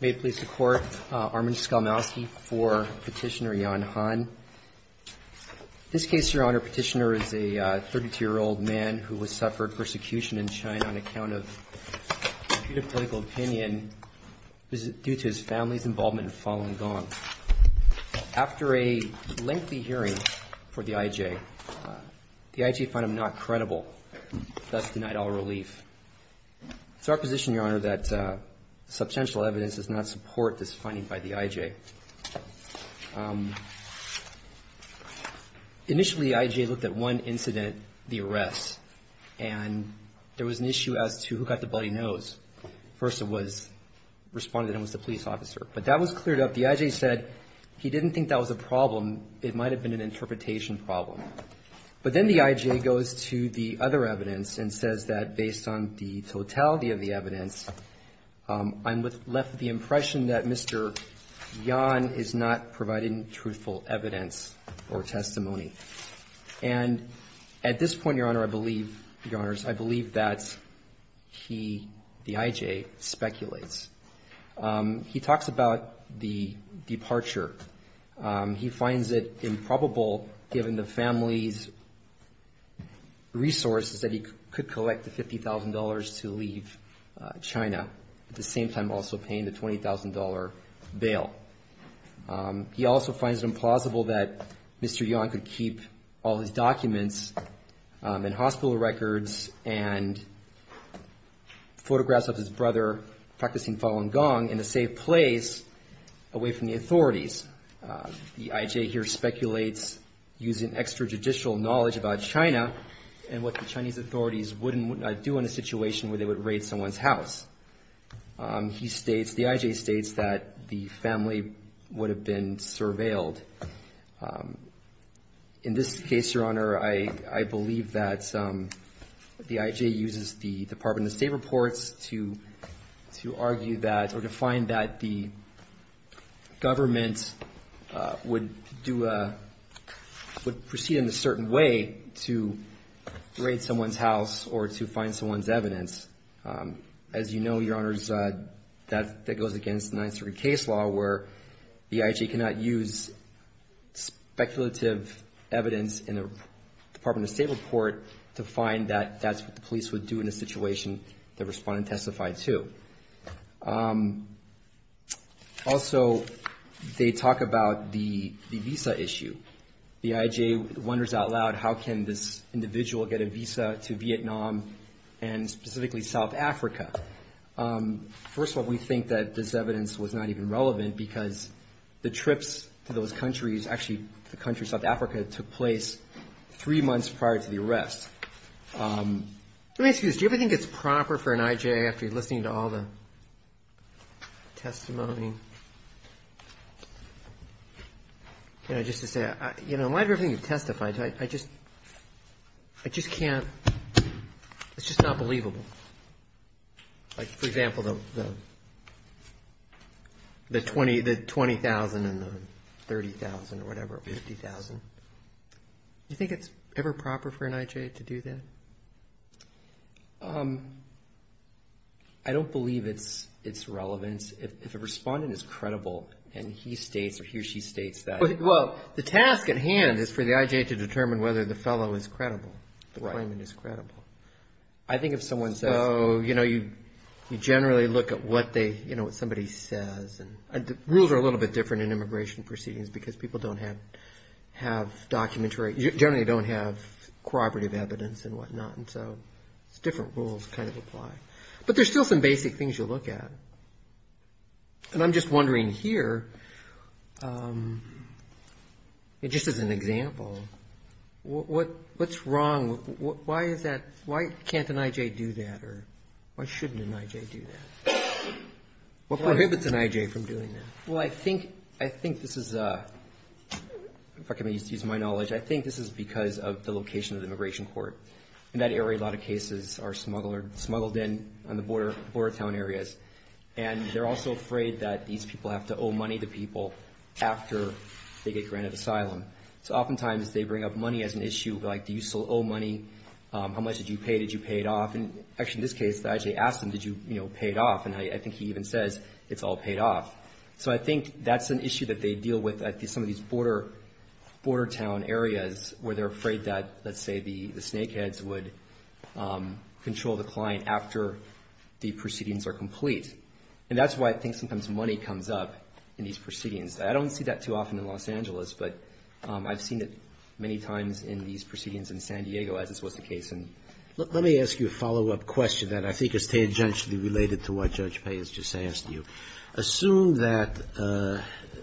May it please the Court, Armin Skolmowsky for Petitioner Jan Han. In this case, Your Honor, Petitioner is a 32-year-old man who has suffered persecution in China on account of a critical opinion due to his family's involvement in Falun Gong. After a lengthy hearing for the IJ, the IJ found him not credible, thus denied all relief. It's our position, Your Honor, that substantial evidence does not support this finding by the IJ. Initially, the IJ looked at one incident, the arrest, and there was an issue as to who got the bloody nose. First it was, responded it was the police officer. But that was cleared up. The IJ said he didn't think that was a problem. It might have been an interpretation problem. But then the IJ goes to the other evidence and says that based on the totality of the evidence, I'm left with the impression that Mr. Yan is not providing truthful evidence or testimony. And at this point, Your Honor, I believe, Your Honors, I believe that he, the IJ, speculates. He talks about the departure. He finds it improbable, given the family's resources, that he could collect the $50,000 to leave China, at the same time also paying the $20,000 bail. He also finds it implausible that Mr. Yan could keep all his documents and hospital records and photographs of his The IJ here speculates using extrajudicial knowledge about China and what the Chinese authorities wouldn't do in a situation where they would raid someone's house. He states, the IJ states, that the family would have been surveilled. In this case, Your Honor, I believe that the IJ uses the Department of State reports to argue that, or to find that the government would do a, would proceed in a certain way to raid someone's house or to find someone's evidence. As you know, Your Honors, that goes against the 9-3-3 case law where the IJ cannot use speculative evidence in the Department of State report to find that that's what the police would do in a situation the respondent testified to. Also, they talk about the visa issue. The IJ wonders out loud, how can this individual get a visa to Vietnam and specifically South Africa? First of all, we think that this evidence was not even relevant because the trips to those countries, actually the country South Africa, took place three months prior to the arrest. Let me ask you this. Do you ever think it's proper for an IJ, after listening to all the testimony, can I just say, in light of everything you've testified to, I just can't, it's just not believable. Like, for example, do you think it's ever proper for an IJ to do that? I don't believe it's relevant. If a respondent is credible and he states or he or she states that. Well, the task at hand is for the IJ to determine whether the fellow is credible, the claimant is credible. Right. I think if someone says... So, you know, you generally look at what they, you know, what somebody says and the rules are a little bit different in immigration proceedings because people don't have, have documentary, generally don't have corroborative evidence and whatnot and so it's different rules kind of apply. But there's still some basic things you look at. And I'm just wondering here, just as an example, what's wrong, why is that, why can't an IJ do that or why shouldn't an IJ do that? What prohibits an IJ from doing that? Well, I think, I think this is, if I can use my knowledge, I think this is because of the location of the immigration court. In that area, a lot of cases are smuggled in, smuggled in on the border, border town areas. And they're also afraid that these people have to owe money to people after they get granted asylum. So oftentimes they bring up money as an issue like, do you still owe money? How much did you pay? Did you pay it off? And actually in this case, the IJ asked him, did you, you know, pay it off? And I think he even says it's all paid off. So I think that's an issue that they deal with at some of these border, border town areas where they're afraid that, let's say, the snakeheads would control the client after the proceedings are complete. And that's why I think sometimes money comes up in these proceedings. I don't see that too often in Los Angeles, but I've seen it many times in these proceedings in San Diego, as this was the case in... Let me ask you a follow-up question that I think is tangentially related to what Judge Payne has just asked you. Assume that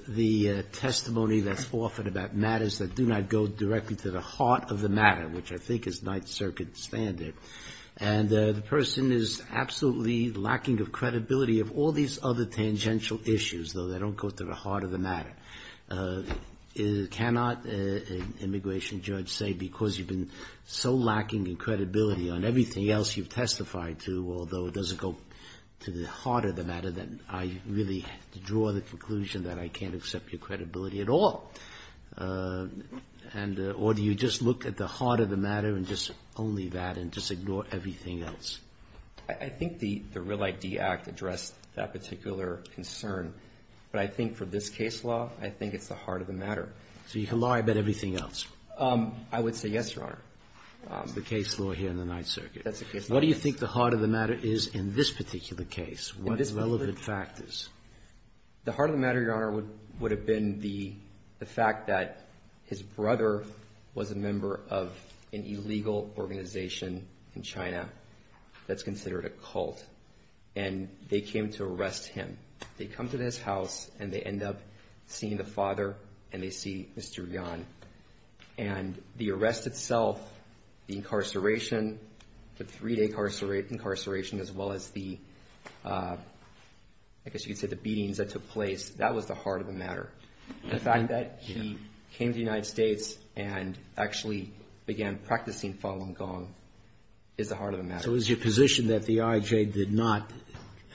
the testimony that's offered about matters that do not go directly to the heart of the matter, which I think is Ninth Circuit standard, and the person is absolutely lacking of credibility of all these other tangential issues, though they don't go to the heart of the matter. Cannot an immigration judge say because you've been so lacking in credibility on everything else you've testified to, although it doesn't go to the heart of the matter, that I really have to draw the conclusion that I can't accept your credibility at all? Or do you just look at the heart of the matter and just only that and just ignore everything else? I think the Real ID Act addressed that particular concern. But I think for this case law, I think it's the heart of the matter. So you can lie about everything else? I would say yes, Your Honor. That's the case law. What do you think the heart of the matter is in this particular case? What are the relevant factors? The heart of the matter, Your Honor, would have been the fact that his brother was a member of an illegal organization in China that's considered a cult. And they came to arrest him. They come to his house, and they end up seeing the father, and they see Mr. Gan. And the arrest itself, the incarceration, the three-day incarceration, as well as the, I guess you could say, the beatings that took place, that was the heart of the matter. The fact that he came to the United States and actually began practicing Falun Gong is the heart of the matter. So is your position that the IJ did not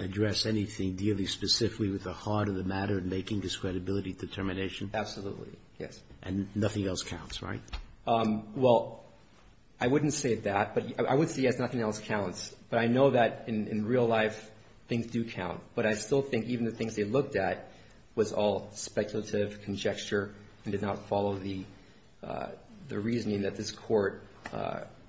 address anything dealing specifically with the heart of the matter and making this credibility determination? Absolutely, yes. And nothing else counts, right? Well, I wouldn't say that. But I would say, yes, nothing else counts. But I know that in real life, things do count. But I still think even the things they looked at was all speculative, conjecture, and did not follow the reasoning that this court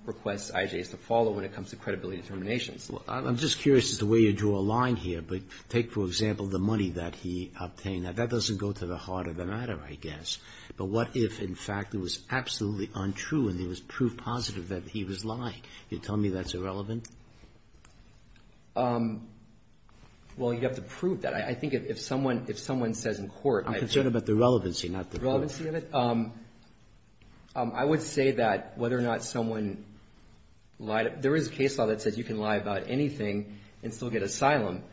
requests IJs to follow when it comes to credibility determinations. I'm just curious as to where you drew a line here. But take, for example, the money that he obtained. Now, that doesn't go to the heart of the matter, I guess. But what if, in fact, it was absolutely untrue and there was proof positive that he was lying? You tell me that's irrelevant? Well, you'd have to prove that. I think if someone says in court, I think I'm concerned about the relevancy, not the court. The relevancy of it? I would say that whether or not someone lied, there is a case law that says you can lie about anything and still get asylum.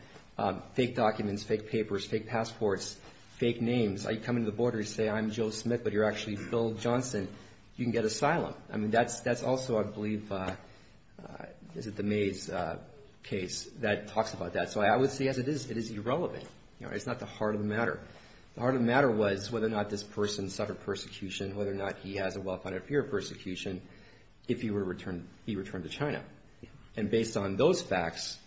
Fake documents, fake papers, fake passports, fake names. Are you coming to the border to say, I'm Joe Smith, but you're actually Phil Johnson? You can get asylum. I mean, that's also, I believe, is it the Mays case that talks about that. So I would say, yes, it is. It is irrelevant. It's not the heart of the matter. The heart of the matter was whether or not this person suffered persecution, whether or not he has a well-founded fear of persecution if he were to return to China. And based on those facts,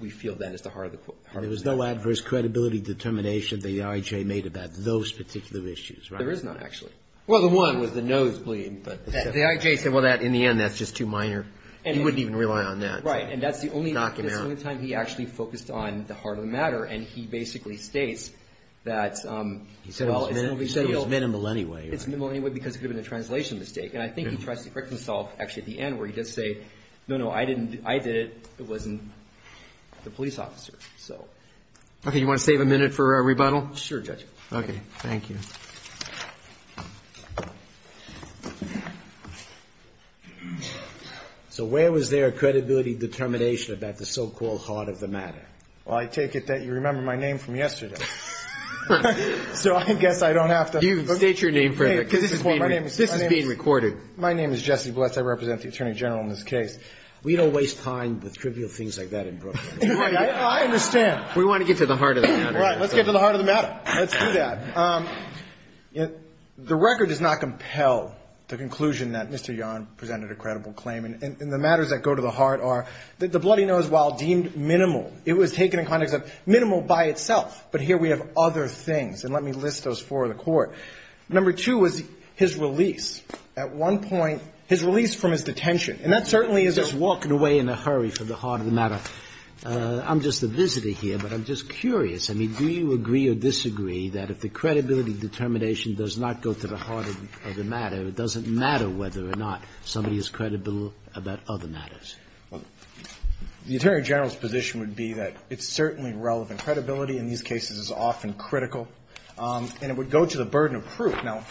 we feel that it's the heart of the matter. There was no adverse credibility determination that the IJ made about those particular issues, right? There is not, actually. Well, the one was the nosebleed, but the IJ said, well, in the end, that's just too minor. You wouldn't even rely on that. Right. And that's the only time he actually focused on the heart of the matter. And he basically states that, well, it's no big deal. He said it was minimal anyway. It's minimal anyway because it could have been a translation mistake. And I think he corrects himself actually at the end where he does say, no, no, I didn't. I did it. It wasn't the police officer. So, OK, you want to save a minute for a rebuttal? Sure, Judge. OK, thank you. So where was their credibility determination about the so-called heart of the matter? Well, I take it that you remember my name from yesterday. So I guess I don't have to. You state your name for this is being recorded. My name is Jesse Bless. I represent the attorney general in this case. We don't waste time with trivial things like that in Brooklyn. I understand. We want to get to the heart of the matter. All right. Let's get to the heart of the matter. Let's do that. The record does not compel the conclusion that Mr. Yarn presented a credible claim. And the matters that go to the heart are that the bloody nose, while deemed minimal, it was taken in context of minimal by itself. But here we have other things. And let me list those for the court. Number two is his release. At one point, his release from his detention. And that certainly is a walk away in a hurry from the heart of the matter. I'm just a visitor here, but I'm just curious. I mean, do you agree or disagree that if the credibility determination does not go to the heart of the matter, it doesn't matter whether or not somebody is credible about other matters? The attorney general's position would be that it's certainly relevant. Credibility in these cases is often critical. And it would go to the burden of proof. Now,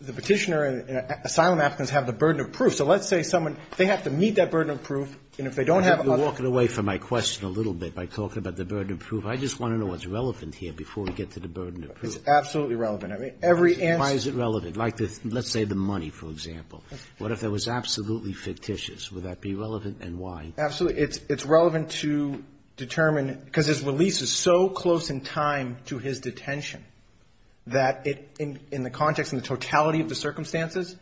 the petitioner and asylum applicants have the burden of proof. So let's say someone, they have to meet that burden of proof. And if they don't have. You're walking away from my question a little bit by talking about the burden of proof. I just want to know what's relevant here before we get to the burden of proof. It's absolutely relevant. I mean, every answer. Why is it relevant? Like, let's say the money, for example. What if that was absolutely fictitious? Would that be relevant? And why? Absolutely. It's relevant to determine because his release is so close in time to his detention that in the context, in the totality of the circumstances,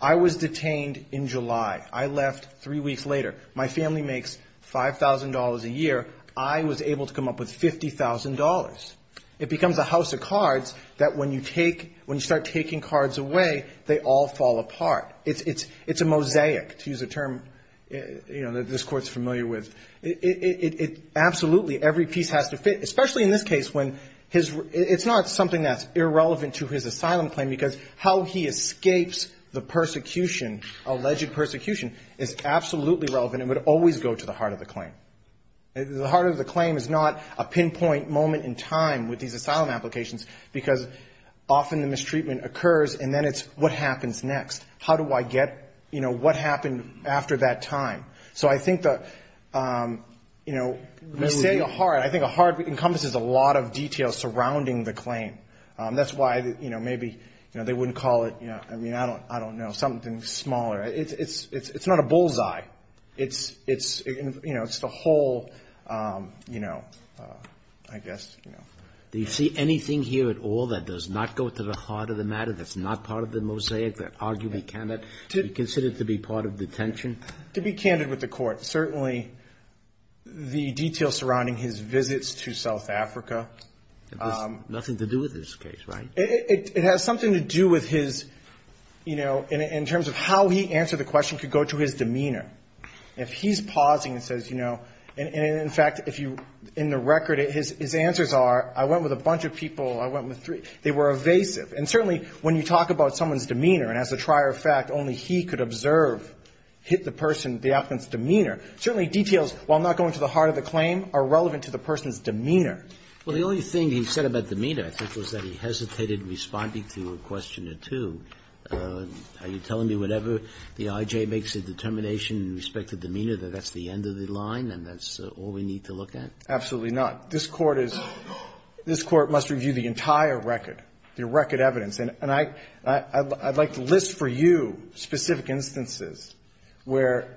I was detained in July. I left three weeks later. My family makes $5,000 a year. I was able to come up with $50,000. It becomes a house of cards that when you take, when you start taking cards away, they all fall apart. It's a mosaic, to use a term that this Court's familiar with. It absolutely, every piece has to fit, especially in this case when his, it's not something that's irrelevant to his asylum claim because how he escapes the persecution, alleged persecution, is absolutely relevant and would always go to the heart of the claim. The heart of the claim is not a pinpoint moment in time with these asylum applications because often the mistreatment occurs and then it's what happens next? How do I get, you know, what happened after that time? So I think the, you know, we say a heart, I think a heart encompasses a lot of detail surrounding the claim. That's why, you know, maybe, you know, they wouldn't call it, you know, I mean, I don't, I don't know, something smaller. It's, it's, it's, it's not a bullseye. It's, it's, you know, it's the whole, you know, I guess, you know. Do you see anything here at all that does not go to the heart of the matter, that's not part of the mosaic, that arguably cannot be considered to be part of detention? To be candid with the court, certainly the detail surrounding his visits to South Africa. Nothing to do with this case, right? It has something to do with his, you know, in terms of how he answered the question could go to his demeanor. If he's pausing and says, you know, and in fact, if you, in the record, his answers are, I went with a bunch of people, I went with three. They were evasive. And certainly when you talk about someone's demeanor and as a trier of fact, only he could observe, hit the person, the applicant's demeanor, certainly details, while not going to the heart of the claim, are relevant to the person's demeanor. Well, the only thing he said about demeanor, I think, was that he hesitated responding to a question or two. Are you telling me whatever the IJ makes a determination in respect to demeanor, that that's the end of the line and that's all we need to look at? Absolutely not. This court is, this court must review the entire record, the record evidence. And I'd like to list for you specific instances where,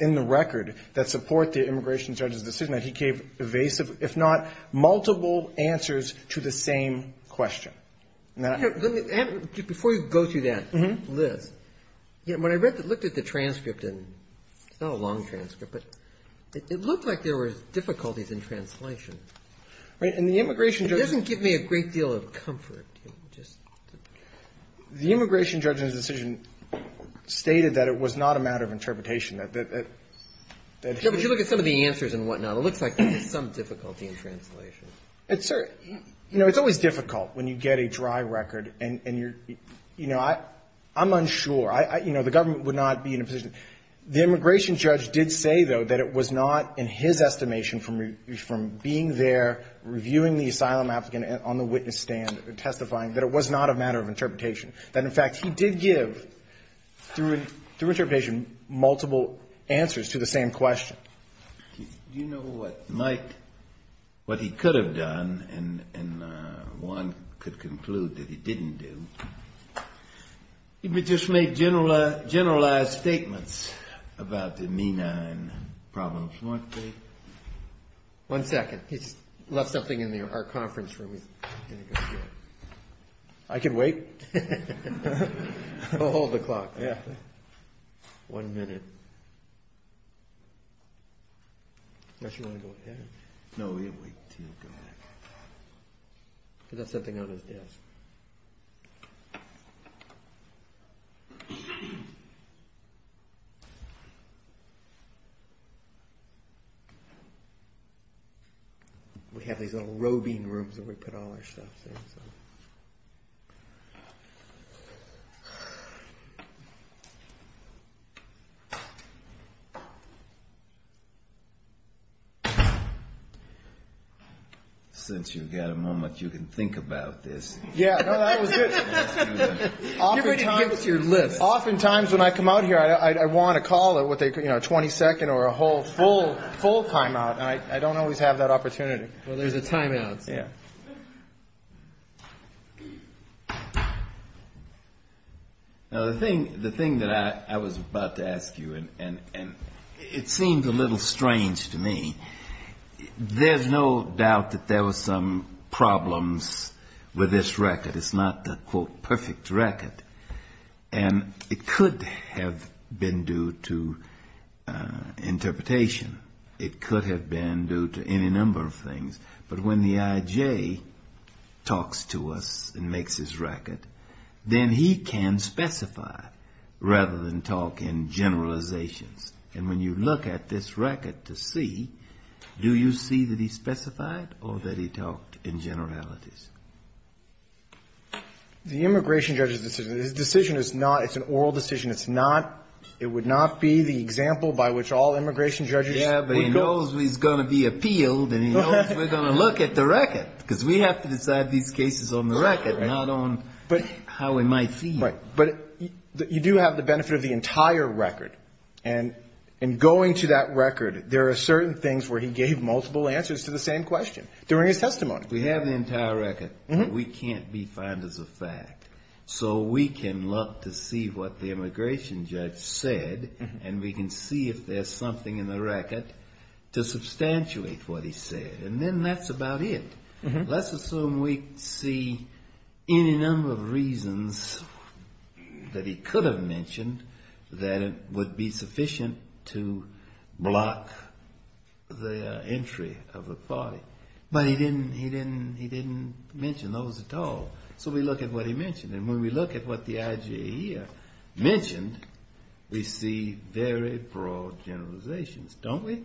in the record, that support the immigration judge's decision that he gave evasive, if not multiple answers to the same question. Before you go through that, Liz, when I read, looked at the transcript, and it's not a long transcript, but it looked like there were difficulties in translation. Right. And the immigration judge doesn't give me a great deal of comfort. Just the immigration judge's decision stated that it was not a matter of interpretation that, that, that, that. Yeah, but you look at some of the answers and whatnot. It looks like there's some difficulty in translation. It's, you know, it's always difficult when you get a dry record and you're, you know, I, I'm unsure. I, you know, the government would not be in a position. The immigration judge did say, though, that it was not in his estimation from, from being there, reviewing the asylum applicant on the witness stand, testifying that it was not a matter of interpretation. That, in fact, he did give, through, through interpretation, multiple answers to the same question. Do you know what might, what he could have done, and, and one could conclude that he didn't do, if he just made general, generalized statements about the MENA and problems, weren't they? One second. He's left something in our conference room. I can wait. We'll hold the clock. Yeah. One minute. Unless you want to go ahead. No, we'll wait until you go ahead. He left something on his desk. We have these little roving rooms where we put all our stuff in, so. Since you've got a moment, you can think about this. Yeah. No, that was good. Give it, give us your list. Oftentimes when I come out here, I, I want to call it with a, you know, a 22nd or a full, full, full timeout. And I, I don't always have that opportunity. Well, there's a timeout. Yeah. Now, the thing, the thing that I was about to ask you, and, and, and it seems a little strange to me, there's no doubt that there was some problems with this record. It's not the quote, perfect record. And it could have been due to interpretation. It could have been due to any number of things. But when the IJ talks to us and makes his record, then he can specify rather than talk in generalizations. And when you look at this record to see, do you see that he specified or that he talked in generalities? The immigration judge's decision, his decision is not, it's an oral decision. It's not, it would not be the example by which all immigration judges would go. Yeah, but he knows he's going to be appealed and he knows we're going to look at the record because we have to decide these cases on the record, not on how we might see them. Right. But you do have the benefit of the entire record. And in going to that record, there are certain things where he gave multiple answers to the same question during his testimony. We have the entire record. We can't be found as a fact. So we can look to see what the immigration judge said and we can see if there's something in the record to substantiate what he said. And then that's about it. Let's assume we see any number of reasons that he could have mentioned that would be sufficient to block the entry of a party. But he didn't, he didn't, he didn't mention those at all. So we look at what he mentioned. And when we look at what the IJA mentioned, we see very broad generalizations, don't we?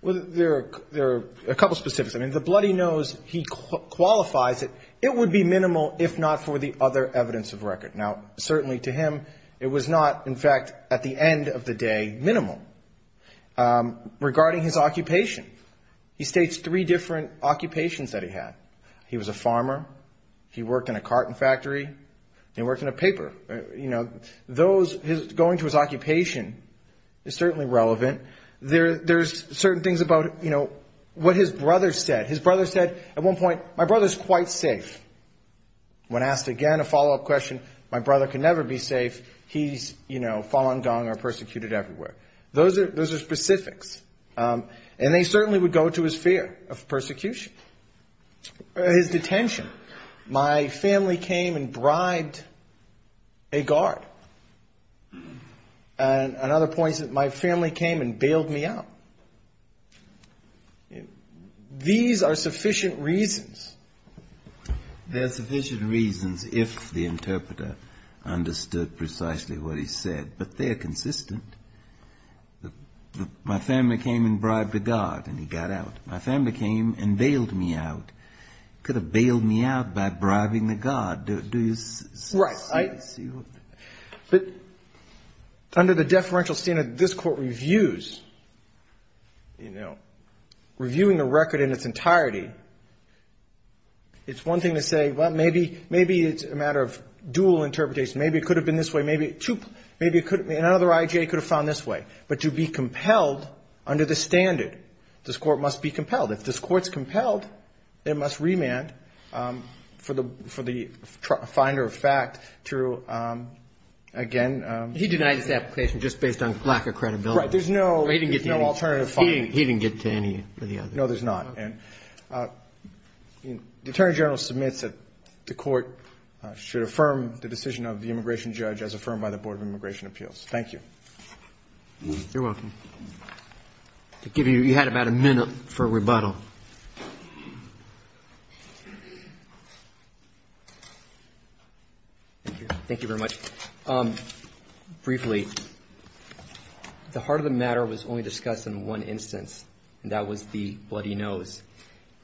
Well, there are a couple of specifics. I mean, the bloody nose, he qualifies it, it would be minimal if not for the other evidence of record. Now, certainly to him, it was not, in fact, at the end of the day, minimal. Regarding his occupation, he states three different occupations that he had. He was a farmer, he worked in a carton factory, he worked in a paper, you know, those, going to his occupation is certainly relevant. There's certain things about, you know, what his brother said. His brother said at one point, my brother's quite safe. When asked again, a follow up question, my brother can never be safe. He's, you know, fallen down or persecuted everywhere. Those are those are specifics. And they certainly would go to his fear of persecution. His detention. My family came and bribed a guard. And another point is that my family came and bailed me out. These are sufficient reasons. There are sufficient reasons if the interpreter understood precisely what he said, but they're consistent. The my family came and bribed a guard and he got out. My family came and bailed me out. Could have bailed me out by bribing the guard. Do you see what I see? But under the deferential standard, this court reviews, you know, reviewing a record in its entirety. It's one thing to say, well, maybe maybe it's a matter of dual interpretation. Maybe it could have been this way. Maybe maybe it could be another IJ could have found this way. But to be compelled under the standard, this court must be compelled. If this court's compelled, it must remand for the for the finder of fact to again. He denied his application just based on lack of credibility. There's no he didn't get no alternative. He didn't get to any of the other. No, there's not. And the attorney general submits that the court should affirm the decision of the immigration judge as affirmed by the Board of Immigration Appeals. Thank you. You're welcome. To give you, you had about a minute for rebuttal. Thank you very much. Briefly, the heart of the matter was only discussed in one instance, and that was the bloody nose.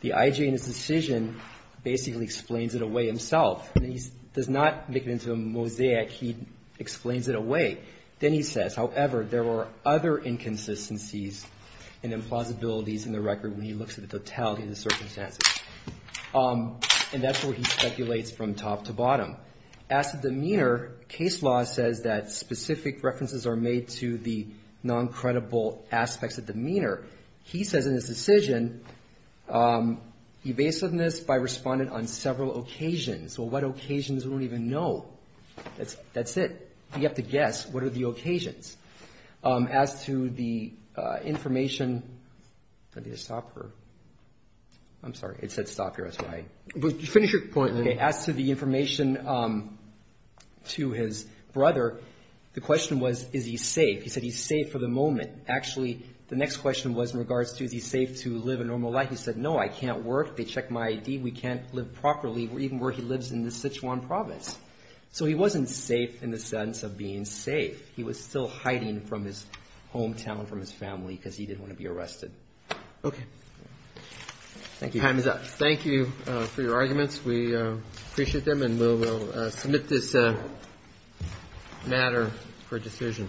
The IJ in his decision basically explains it away himself. And he does not make it into a mosaic. He explains it away. Then he says, however, there were other inconsistencies and implausibilities in the record when he looks at the totality of the circumstances. And that's where he speculates from top to bottom. As to demeanor, case law says that specific references are made to the non-credible aspects of demeanor. He says in his decision, evasiveness by respondent on several occasions. Well, what occasions? We don't even know. That's it. You have to guess. What are the occasions? As to the information, I need to stop here. I'm sorry. It said stop here. That's why. Finish your point. As to the information to his brother, the question was, is he safe? He said he's safe for the moment. Actually, the next question was in regards to, is he safe to live a normal life? He said, no, I can't work. They checked my ID. We can't live properly, even where he lives in the Sichuan province. So he wasn't safe in the sense of being safe. He was still hiding from his hometown, from his family, because he didn't want to be arrested. Okay. Thank you. Time is up. Thank you for your arguments. We appreciate them and we'll submit this matter for decision.